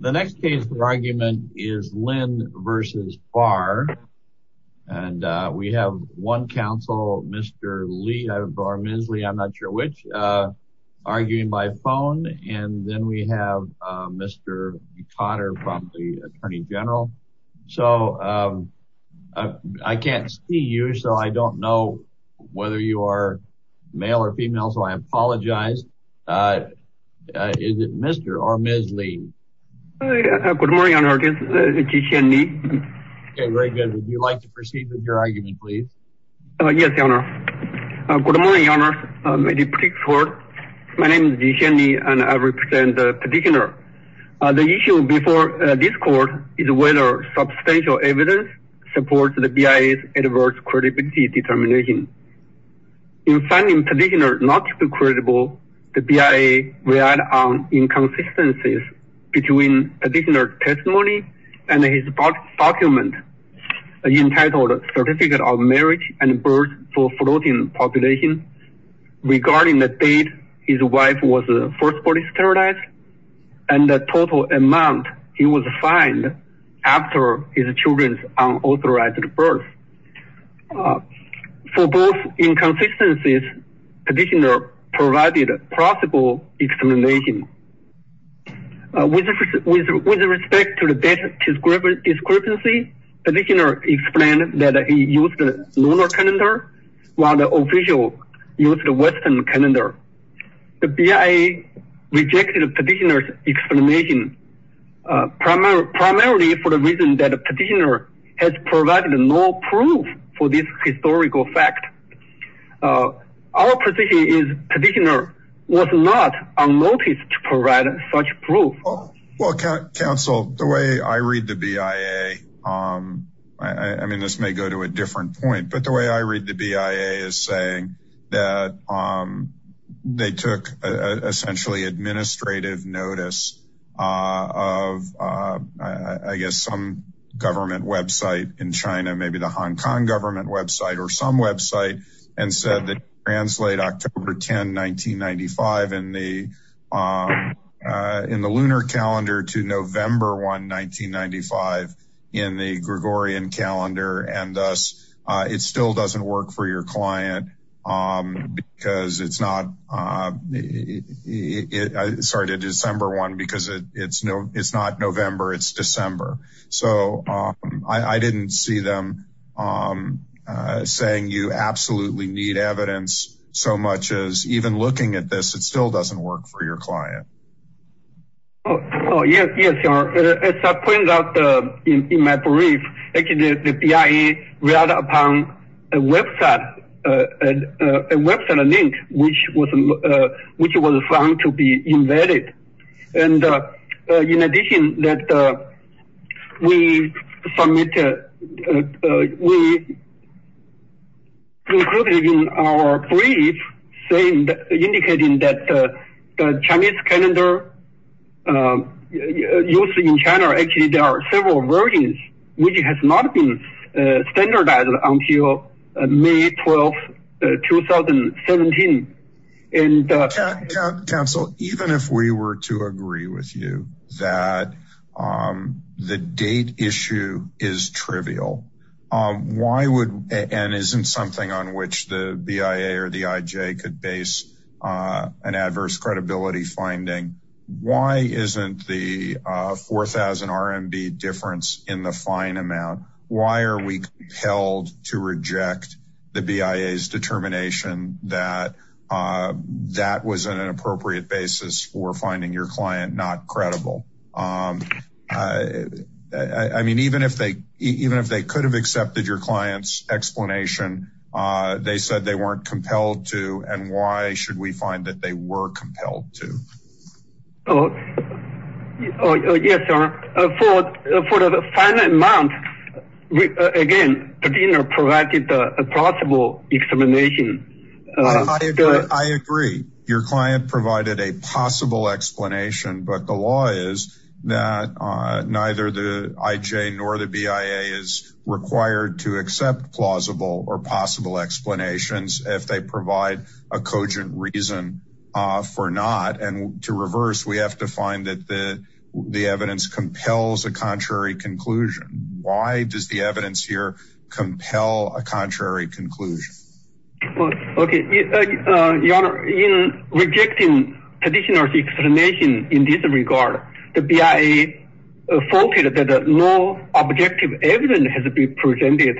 The next case for argument is Lin v. Barr and we have one counsel Mr. Lee or Ms. Lee, I'm not sure which, arguing by phone and then we have Mr. Cotter from the Attorney General. So I can't see you so I don't know whether you are male or female so I apologize. Is it Mr. or Ms. Lee? Good morning Your Honor, this is Ji Xian Ni. Okay, very good. Would you like to proceed with your argument please? Yes, Your Honor. Good morning, Your Honor. My name is Ji Xian Ni and I represent the petitioner. The issue before this court is whether substantial evidence supports the BIA's adverse credibility determination. In finding petitioner not to be credible, the BIA relied on inconsistencies between petitioner's testimony and his document entitled Certificate of Marriage and Birth for Floating Population regarding the date his wife was first body sterilized and the total amount he was fined after his children's unauthorized birth. For both inconsistencies, petitioner provided plausible explanation. With respect to the data discrepancy, petitioner explained that he used the lunar calendar while the official used the western calendar. The BIA rejected the petitioner's explanation primarily for the reason that the petitioner has provided no proof for this historical fact. Our position is the petitioner was not unnoticed to provide such proof. Well, counsel, the way I read the BIA, I mean this may go to a different point, but the way I read the BIA is saying that they took essentially administrative notice of I guess some government website in China, maybe the Hong Kong government website or some website and said that translate October 10, 1995 in the lunar calendar to November 1, 1995 in the Gregorian calendar and thus it still doesn't work for your client because it's not, sorry, to December 1 because it's not November, it's December. So I didn't see them saying you absolutely need evidence so much as even looking at this, it still doesn't work for your client. Oh, yes, as I pointed out in my brief, actually the BIA relied upon a website, a website link which was found to be invalid. And in addition that we submitted, we included in our brief saying, indicating that the Chinese calendar used in China, actually there are several versions which has not been standardized until May 12, 2017. Counsel, even if we were to agree with you that the date issue is trivial, why would, and isn't something on which the BIA or the IJ could base an adverse credibility finding, why isn't the 4000 RMB difference in the fine amount, why are we compelled to reject the BIA's determination that that was an inappropriate basis for finding your client not credible? I mean, even if they could have accepted your client's explanation, they said they weren't compelled to, and why should we find that they were compelled to? Yes, sir, for the fine amount, again, the dean provided a possible explanation. I agree, I agree, your client provided a possible explanation, but the law is that neither the IJ nor the BIA is required to accept plausible or possible explanations if they provide a cogent reason for not, and to reverse, we have to find that the evidence compels a contrary conclusion. Why does the evidence here compel a contrary conclusion? Well, okay, your honor, in rejecting the petitioner's explanation in this regard, the BIA faulted that no objective evidence has been presented.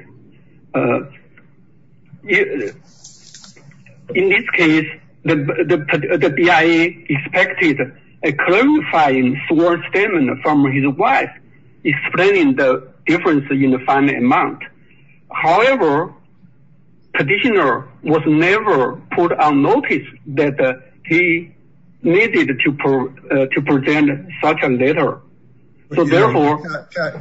In this case, the BIA expected a clarifying sworn statement from his wife explaining the difference in the fine amount. However, petitioner was never put on notice that he needed to present such a letter, so therefore-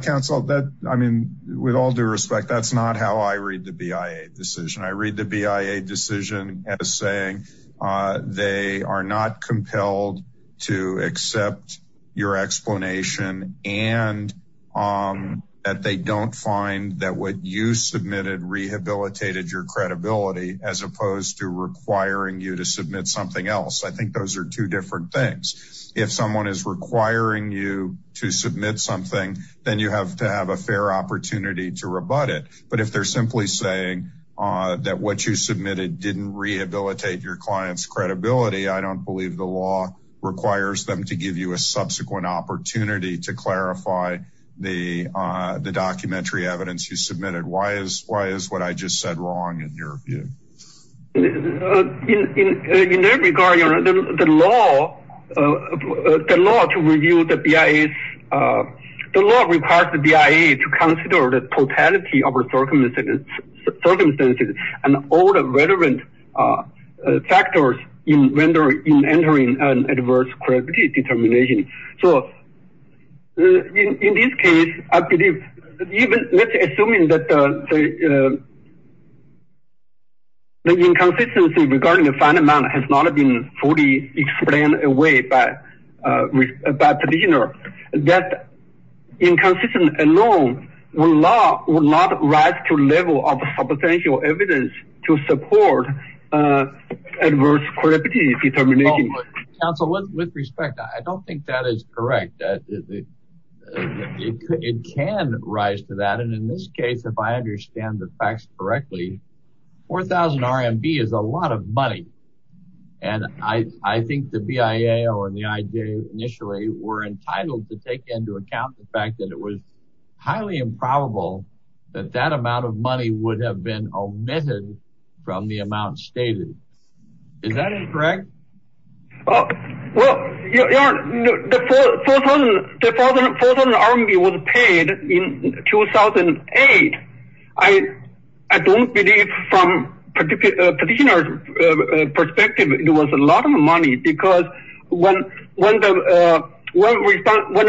Counsel, I mean, with all due respect, that's not how I read the BIA decision. I read the BIA decision as saying they are not compelled to accept your explanation and that they don't find that what you submitted rehabilitated your credibility as opposed to requiring you to submit something else. I think those are two different things. If someone is requiring you to submit something, then you have to have a fair opportunity to rebut it, but if they're simply saying that what you submitted didn't rehabilitate your client's credibility, I don't believe the law requires them to give you a subsequent opportunity to clarify the documentary evidence you submitted. Why is what I just said wrong in your view? In that regard, your honor, the law to review the BIA, the law requires the BIA to consider the totality of the circumstances and all the relevant factors in entering an adverse credibility determination. So, in this case, let's assume that the inconsistency regarding the fine amount has not been fully explained away by petitioner. That inconsistency alone will not rise to level of potential evidence to support adverse credibility determination. Counsel, with respect, I don't think that is correct. It can rise to that, and in this case, if I understand the facts correctly, 4,000 RMB is a lot of money, and I think the BIA or the IJ initially were entitled to take into account the fact that it was highly improbable that that amount of money would have been omitted from the amount stated. Is that incorrect? Well, your honor, the 4,000 RMB was paid in 2008. I don't believe from petitioner's a lot of money because when the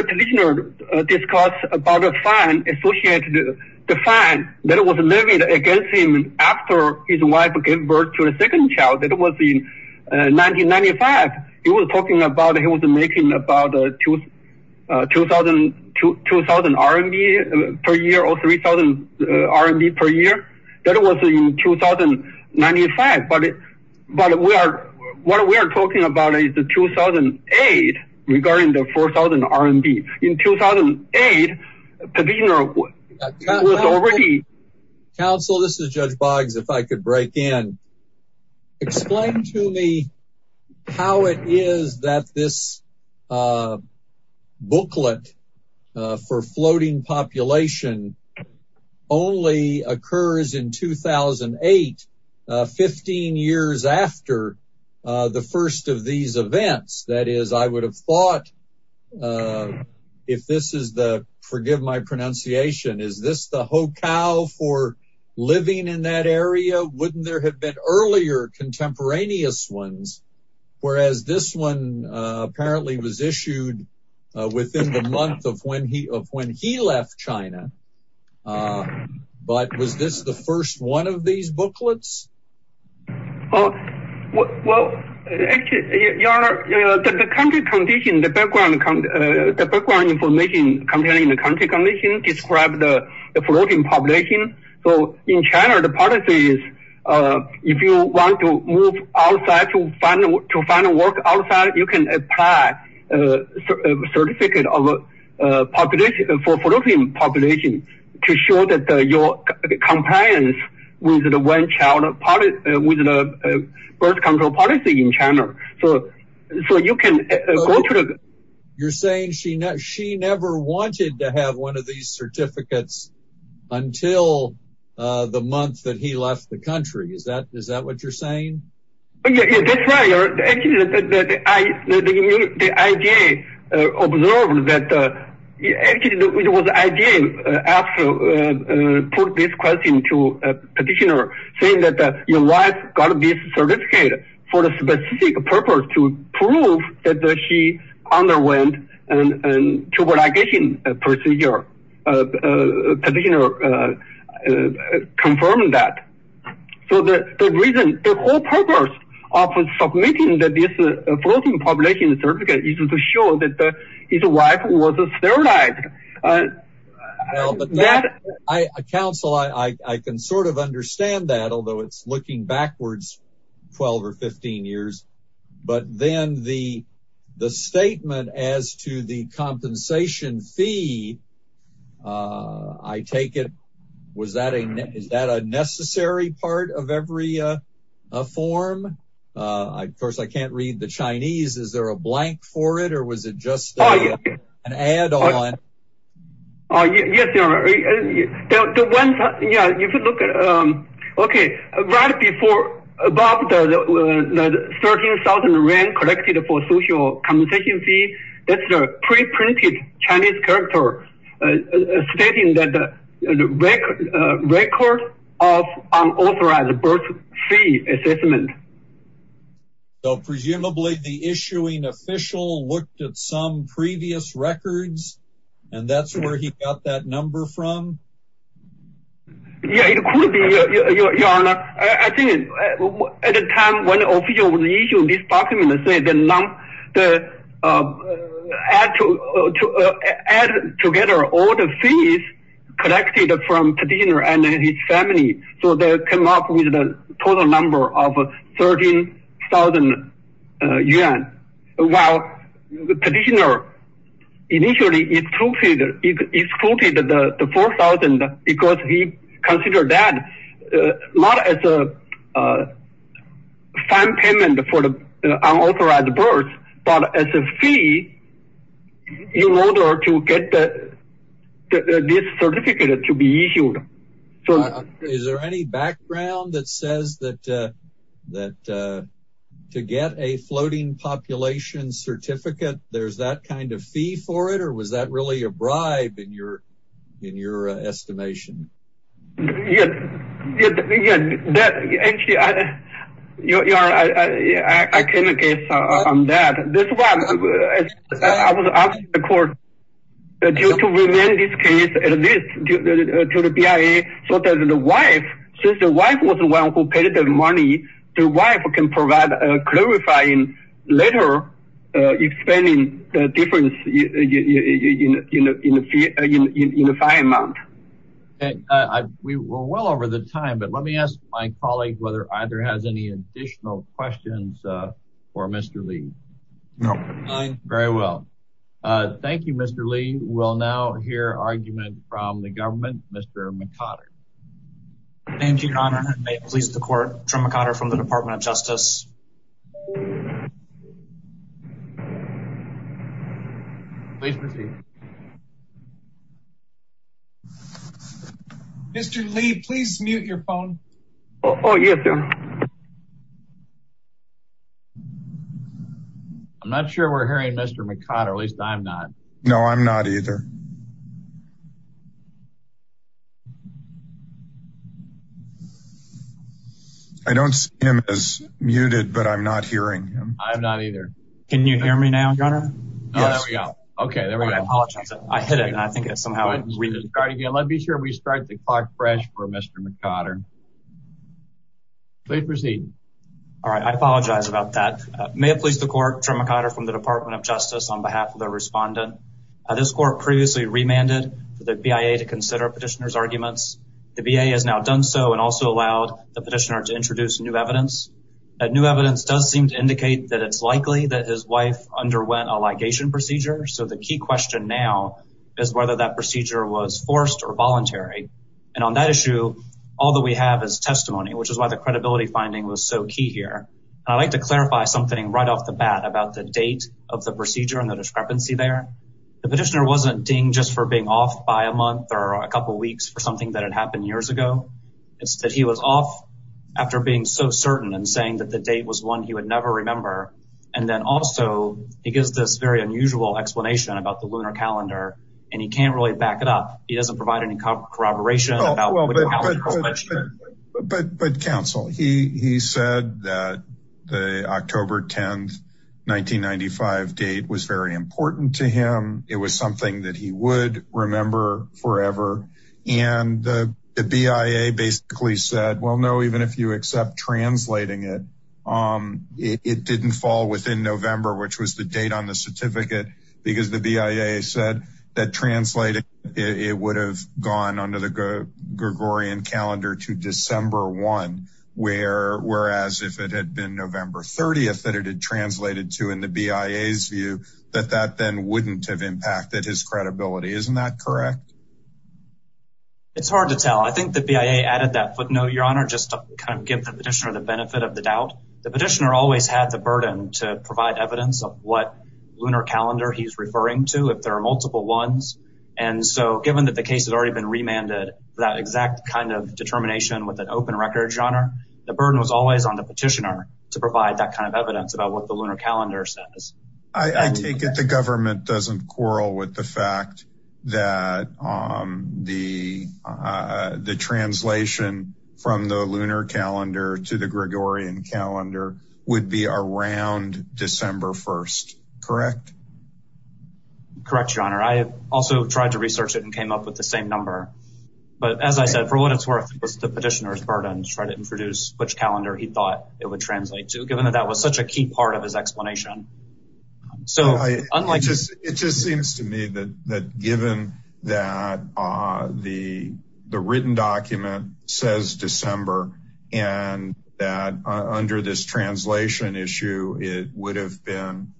petitioner discussed about a fine associated, the fine that was levied against him after his wife gave birth to a second child, that was in 1995. He was talking about he was making about 2,000 RMB per year or 3,000 RMB per year. That was in 2095, but what we are talking about is the 2008 regarding the 4,000 RMB. In 2008, the petitioner was already... Counsel, this is Judge Boggs, if I could break in. Explain to me how it is that this is 15 years after the first of these events. That is, I would have thought, if this is the, forgive my pronunciation, is this the hokal for living in that area? Wouldn't there have been earlier contemporaneous ones? Whereas this one apparently was issued within the month of when he left China, but was this the first one of these booklets? Oh, well, actually, Your Honor, the country condition, the background information containing the country condition described the floating population. So in China, the policy is if you want to move outside to find a work outside, you can apply a certificate of population for floating population to show that your compliance with the birth control policy in China. So you can go to the... You're saying she never wanted to have one of these certificates until the month that he left the country. Is that what you're saying? Yeah, that's right. Actually, the IGA observed that... Actually, it was the IGA put this question to a petitioner saying that your wife got this certificate for a specific purpose to prove that she underwent a tubal ligation procedure. Petitioner confirmed that. So the reason, the whole purpose of submitting that this floating population certificate is to show that his wife was sterilized. Counsel, I can sort of understand that, although it's looking backwards 12 or 15 years. But then the statement as to the compensation fee, I take it, is that a necessary part of every form? Of course, I can't read the Chinese. Is there a blank for it or was it just an add-on? Yes, you're right. If you look at... Okay, right before about 13,000 yuan collected for social compensation fee, that's a pre-printed Chinese character stating that the record of unauthorized birth fee assessment. So presumably, the issuing official looked at some previous records and that's where he got that number from? Yeah, it could be, Your Honor. I think at the time when the official issued this add together all the fees collected from Petitioner and his family. So they came up with a total number of 13,000 yuan. While Petitioner initially excluded the 4,000 because he considered that not as a fine payment for the unauthorized birth, but as a fee in order to get this certificate to be issued. Is there any background that says that to get a floating population certificate, there's that kind of fee for it? Or was that really a I was asking the court to remain this case at least to the BIA so that the wife, since the wife was the one who paid the money, the wife can provide a clarifying letter explaining the difference in the fine amount. We're well over the time, but let me ask my Thank you, Mr. Lee. We'll now hear argument from the government, Mr. McConner. Thank you, Your Honor. May it please the court, Trim McConner from the Department of Justice. Mr. Lee, please mute your phone. Yes, sir. I'm not sure we're hearing Mr. McConner. At least I'm not. No, I'm not either. I don't see him as muted, but I'm not hearing him. I'm not either. Can you hear me now, Your Honor? Yes. There we go. Okay, there we go. I apologize. I hit it and I think it's somehow Let's be sure we start the clock fresh for Mr. McConner. Please proceed. All right. I apologize about that. May it please the court, Trim McConner from the Department of Justice on behalf of the respondent. This court previously remanded for the BIA to consider petitioner's arguments. The BIA has now done so and also allowed the petitioner to introduce new evidence. New evidence does seem to indicate that it's likely that his wife underwent a was forced or voluntary. And on that issue, all that we have is testimony, which is why the credibility finding was so key here. And I'd like to clarify something right off the bat about the date of the procedure and the discrepancy there. The petitioner wasn't dinged just for being off by a month or a couple of weeks for something that had happened years ago. It's that he was off after being so certain and saying that the date was one he would never remember. And then also he gives this very unusual explanation about the lunar calendar and he can't really back it up. He doesn't provide any corroboration. But counsel, he said that the October 10th, 1995 date was very important to him. It was something that he would remember forever. And the BIA basically said, well, no, even if you accept translating it, it didn't fall within November, which was the date on the certificate because the BIA said that translated, it would have gone under the Gregorian calendar to December 1, whereas if it had been November 30th that it had translated to in the BIA's view, that that then wouldn't have impacted his credibility, isn't that correct? It's hard to tell. I think the BIA added that footnote, your honor, just to kind of give the petitioner the benefit of the doubt. The petitioner always had the burden to provide evidence of what lunar calendar he's referring to, if there are multiple ones. And so given that the case has already been remanded, that exact kind of determination with an open record, your honor, the burden was always on the petitioner to provide that kind of evidence about what the lunar calendar says. I take it the government doesn't quarrel with the fact that the translation from the lunar calendar to the Gregorian calendar would be around December 1st, correct? Correct, your honor. I also tried to research it and came up with the same number, but as I said, for what it's worth, it was the petitioner's burden to try to introduce which calendar he thought it would translate to, given that that was such a key part of his explanation. So unlike- It just seems to me that given that the written document says December and that under this translation issue, it would have been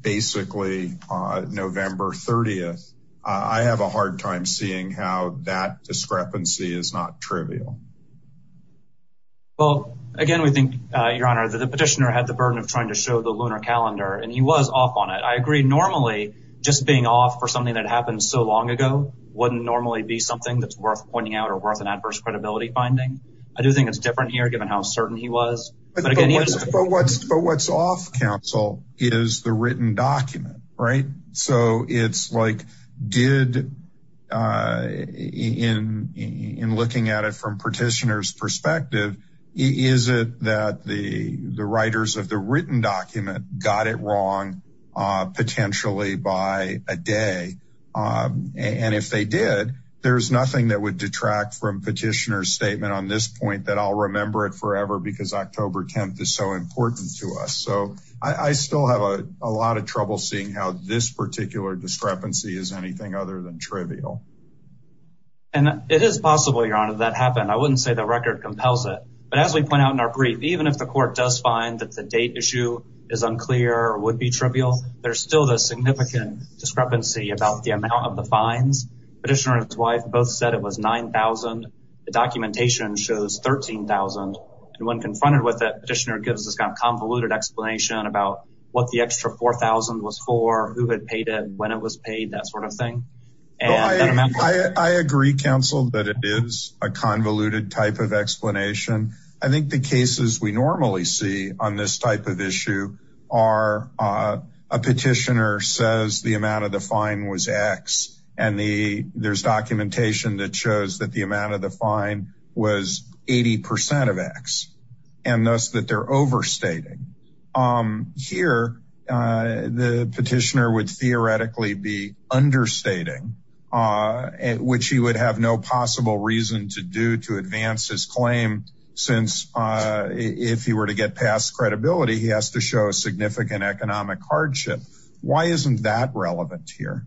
basically November 30th. I have a hard time seeing how that discrepancy is not trivial. Well, again, we think, your honor, that the petitioner had the burden of trying to show the lunar calendar and he was off on it. I agree normally just being off for something that happened so long ago wouldn't normally be something that's worth pointing out or worth an adverse credibility finding. I do think it's different here given how certain he was. But what's off, counsel, is the written document, right? So it's like did, in looking at it from petitioner's perspective, is it that the writers of the written document got it wrong potentially by a day? And if they did, there's nothing that would detract from petitioner's point that I'll remember it forever because October 10th is so important to us. So I still have a lot of trouble seeing how this particular discrepancy is anything other than trivial. And it is possible, your honor, that happened. I wouldn't say the record compels it. But as we point out in our brief, even if the court does find that the date issue is unclear or would be trivial, there's still this significant discrepancy about the amount of the fines. Petitioner and his wife both said it was 9,000. The documentation shows 13,000. And when confronted with it, petitioner gives this kind of convoluted explanation about what the extra 4,000 was for, who had paid it, when it was paid, that sort of thing. I agree, counsel, that it is a convoluted type of explanation. I think the cases we normally see on this type of issue are a petitioner says the amount of the fine was 80% of X, and thus that they're overstating. Here, the petitioner would theoretically be understating, which he would have no possible reason to do to advance his claim since if he were to get past credibility, he has to show a significant economic hardship. Why isn't that relevant here?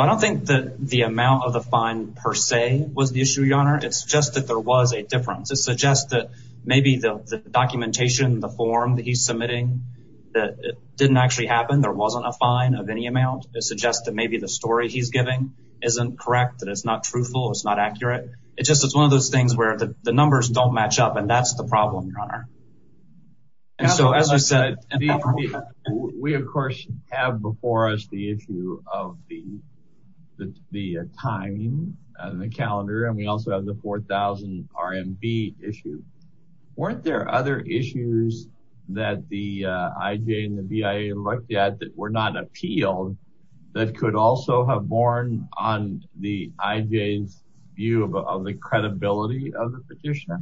I don't think that the amount of the fine per se was the issue, your honor. It's just that there was a difference. It suggests that maybe the documentation, the form that he's submitting, that it didn't actually happen. There wasn't a fine of any amount. It suggests that maybe the story he's giving isn't correct, that it's not truthful. It's not accurate. It's just it's one of those things where the numbers don't match up. And that's the problem, your honor. And so, as I said, we, of course, have before us the issue of the timing and the calendar, and we also have the 4000 RMB issue. Weren't there other issues that the IJ and the BIA looked at that were not appealed that could also have borne on the IJ's view of the credibility of the petitioner?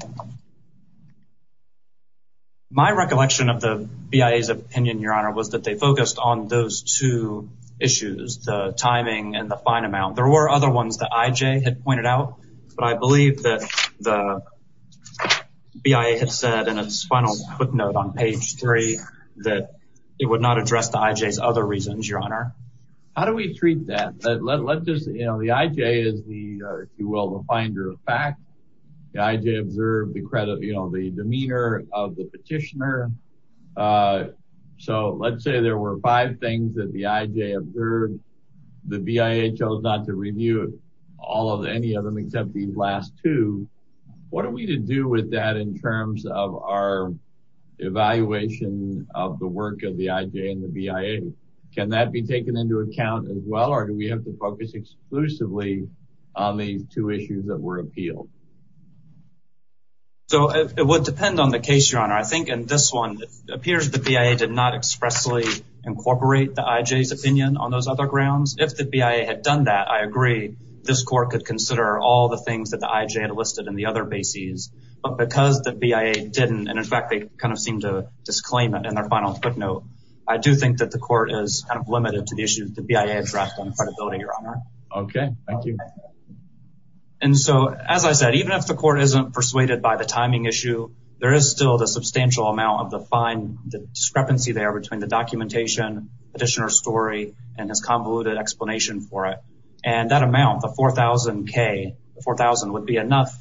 My recollection of the BIA's opinion, your honor, was that they focused on those two issues, the timing and the fine amount. There were other ones that IJ had pointed out, but I believe that the BIA had said in its final footnote on page three that it would not address the IJ's other reasons, your honor. How do we treat that? The IJ is, if you will, the finder of fact. The IJ observed the credit, you know, the demeanor of the petitioner. So, let's say there were five things that the IJ observed. The BIA chose not to review all of any of them except these last two. What are we to do with that in terms of our evaluation of the work of the IJ and the BIA? Can that be taken into account as well? Or do we have to focus exclusively on these two issues that were appealed? So, it would depend on the case, your honor. I think in this one, it appears the BIA did not expressly incorporate the IJ's opinion on those other grounds. If the BIA had done that, I agree. This court could consider all the things that the IJ had listed in the other bases. But because the BIA didn't, and in fact, they kind of seem to disclaim it in their final footnote, I do think that the court is kind of limited to the issue that the BIA addressed on credibility, your honor. Okay, thank you. And so, as I said, even if the court isn't persuaded by the timing issue, there is still the substantial amount of the fine, the discrepancy there between the documentation, petitioner's story, and his convoluted explanation for it. And that amount, the 4,000K, the 4,000 would be enough,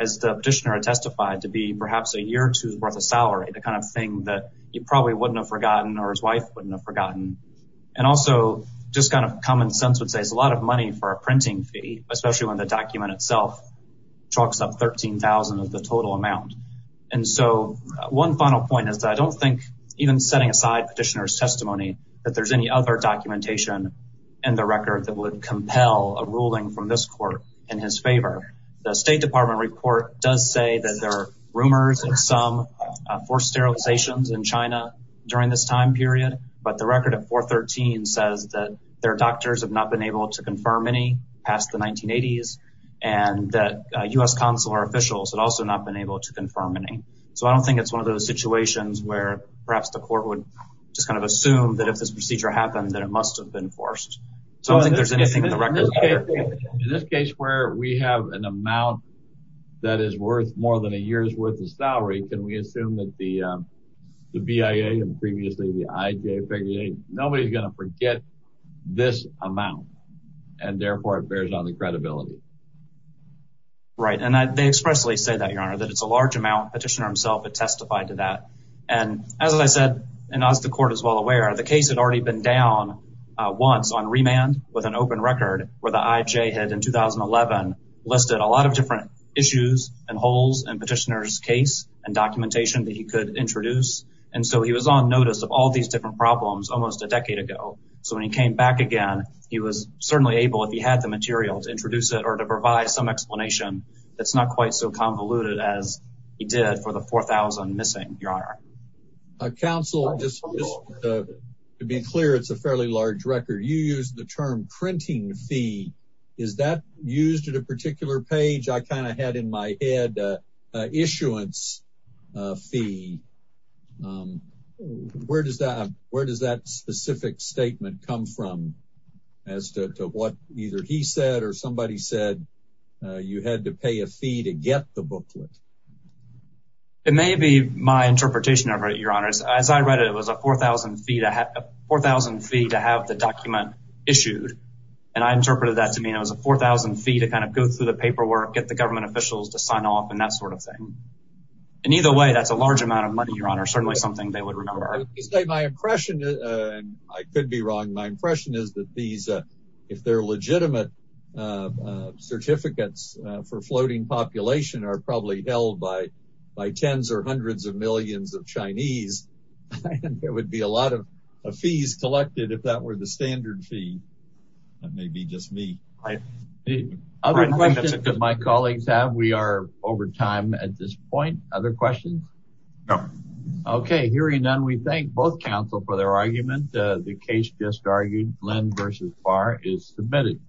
as the petitioner had testified, to be perhaps a year or two's worth of salary, the kind of thing that he probably wouldn't have forgotten or his wife wouldn't have forgotten. And also, just kind of common sense would say it's a lot of money for a printing fee, especially when the document itself chalks up 13,000 of the total amount. And so, one final point is that I don't think, even setting aside petitioner's testimony, that there's any other documentation in the record that would compel a ruling from this court in his favor. The State Department report does say that there are rumors of some forced sterilizations in China during this time period, but the record at 413 says that their doctors have not been able to confirm any past the 1980s, and that U.S. consular officials had also not been able to confirm any. So, I don't think it's one of those situations where perhaps the court would just kind of assume that if this procedure happened, that it must have been forced. So, I don't think there's anything in the record. In this case, where we have an amount that is worth more than a year's worth of salary, can we assume that the BIA and previously the IJ figure, nobody's going to forget this amount, and therefore, it bears on the credibility. Right, and they expressly say that, Your Honor, that it's a large amount. Petitioner himself had testified to that. And as I said, and as the court is well aware, the case had already been down once on remand with an open record where the IJ had, in 2011, listed a lot of different issues and holes in Petitioner's case and documentation that he could introduce. And so, he was on notice of all these different problems almost a decade ago. So, when he came back again, he was certainly able, if he had the material, to introduce it or to provide some explanation that's not quite so convoluted as he did for the 4,000 missing, Your Honor. Counsel, just to be clear, it's a fairly large record. You used the term printing fee. Is that used at a particular page? I kind of had in my head an issuance fee. Where does that specific statement come from as to what either he said or somebody said you had to pay a fee to get the booklet? It may be my interpretation of it, Your Honor. As I read it, it was a 4,000 fee to have the document issued. And I interpreted that to mean it was a 4,000 fee to kind of go through the paperwork, get the government officials to sign off, and that sort of thing. And either way, that's a large amount of money, Your Honor. Certainly something they would remember. My impression, and I could be wrong, my impression is that these, if they're legitimate certificates for floating population, are probably held by tens or hundreds of millions of Chinese, and there would be a lot of fees collected if that were the standard fee. That may be just me. Any other questions that my colleagues have? We are over time at this point. Other questions? No. Okay. Hearing none, we thank both counsel for their argument. The case just argued. Lin versus Farr is submitted.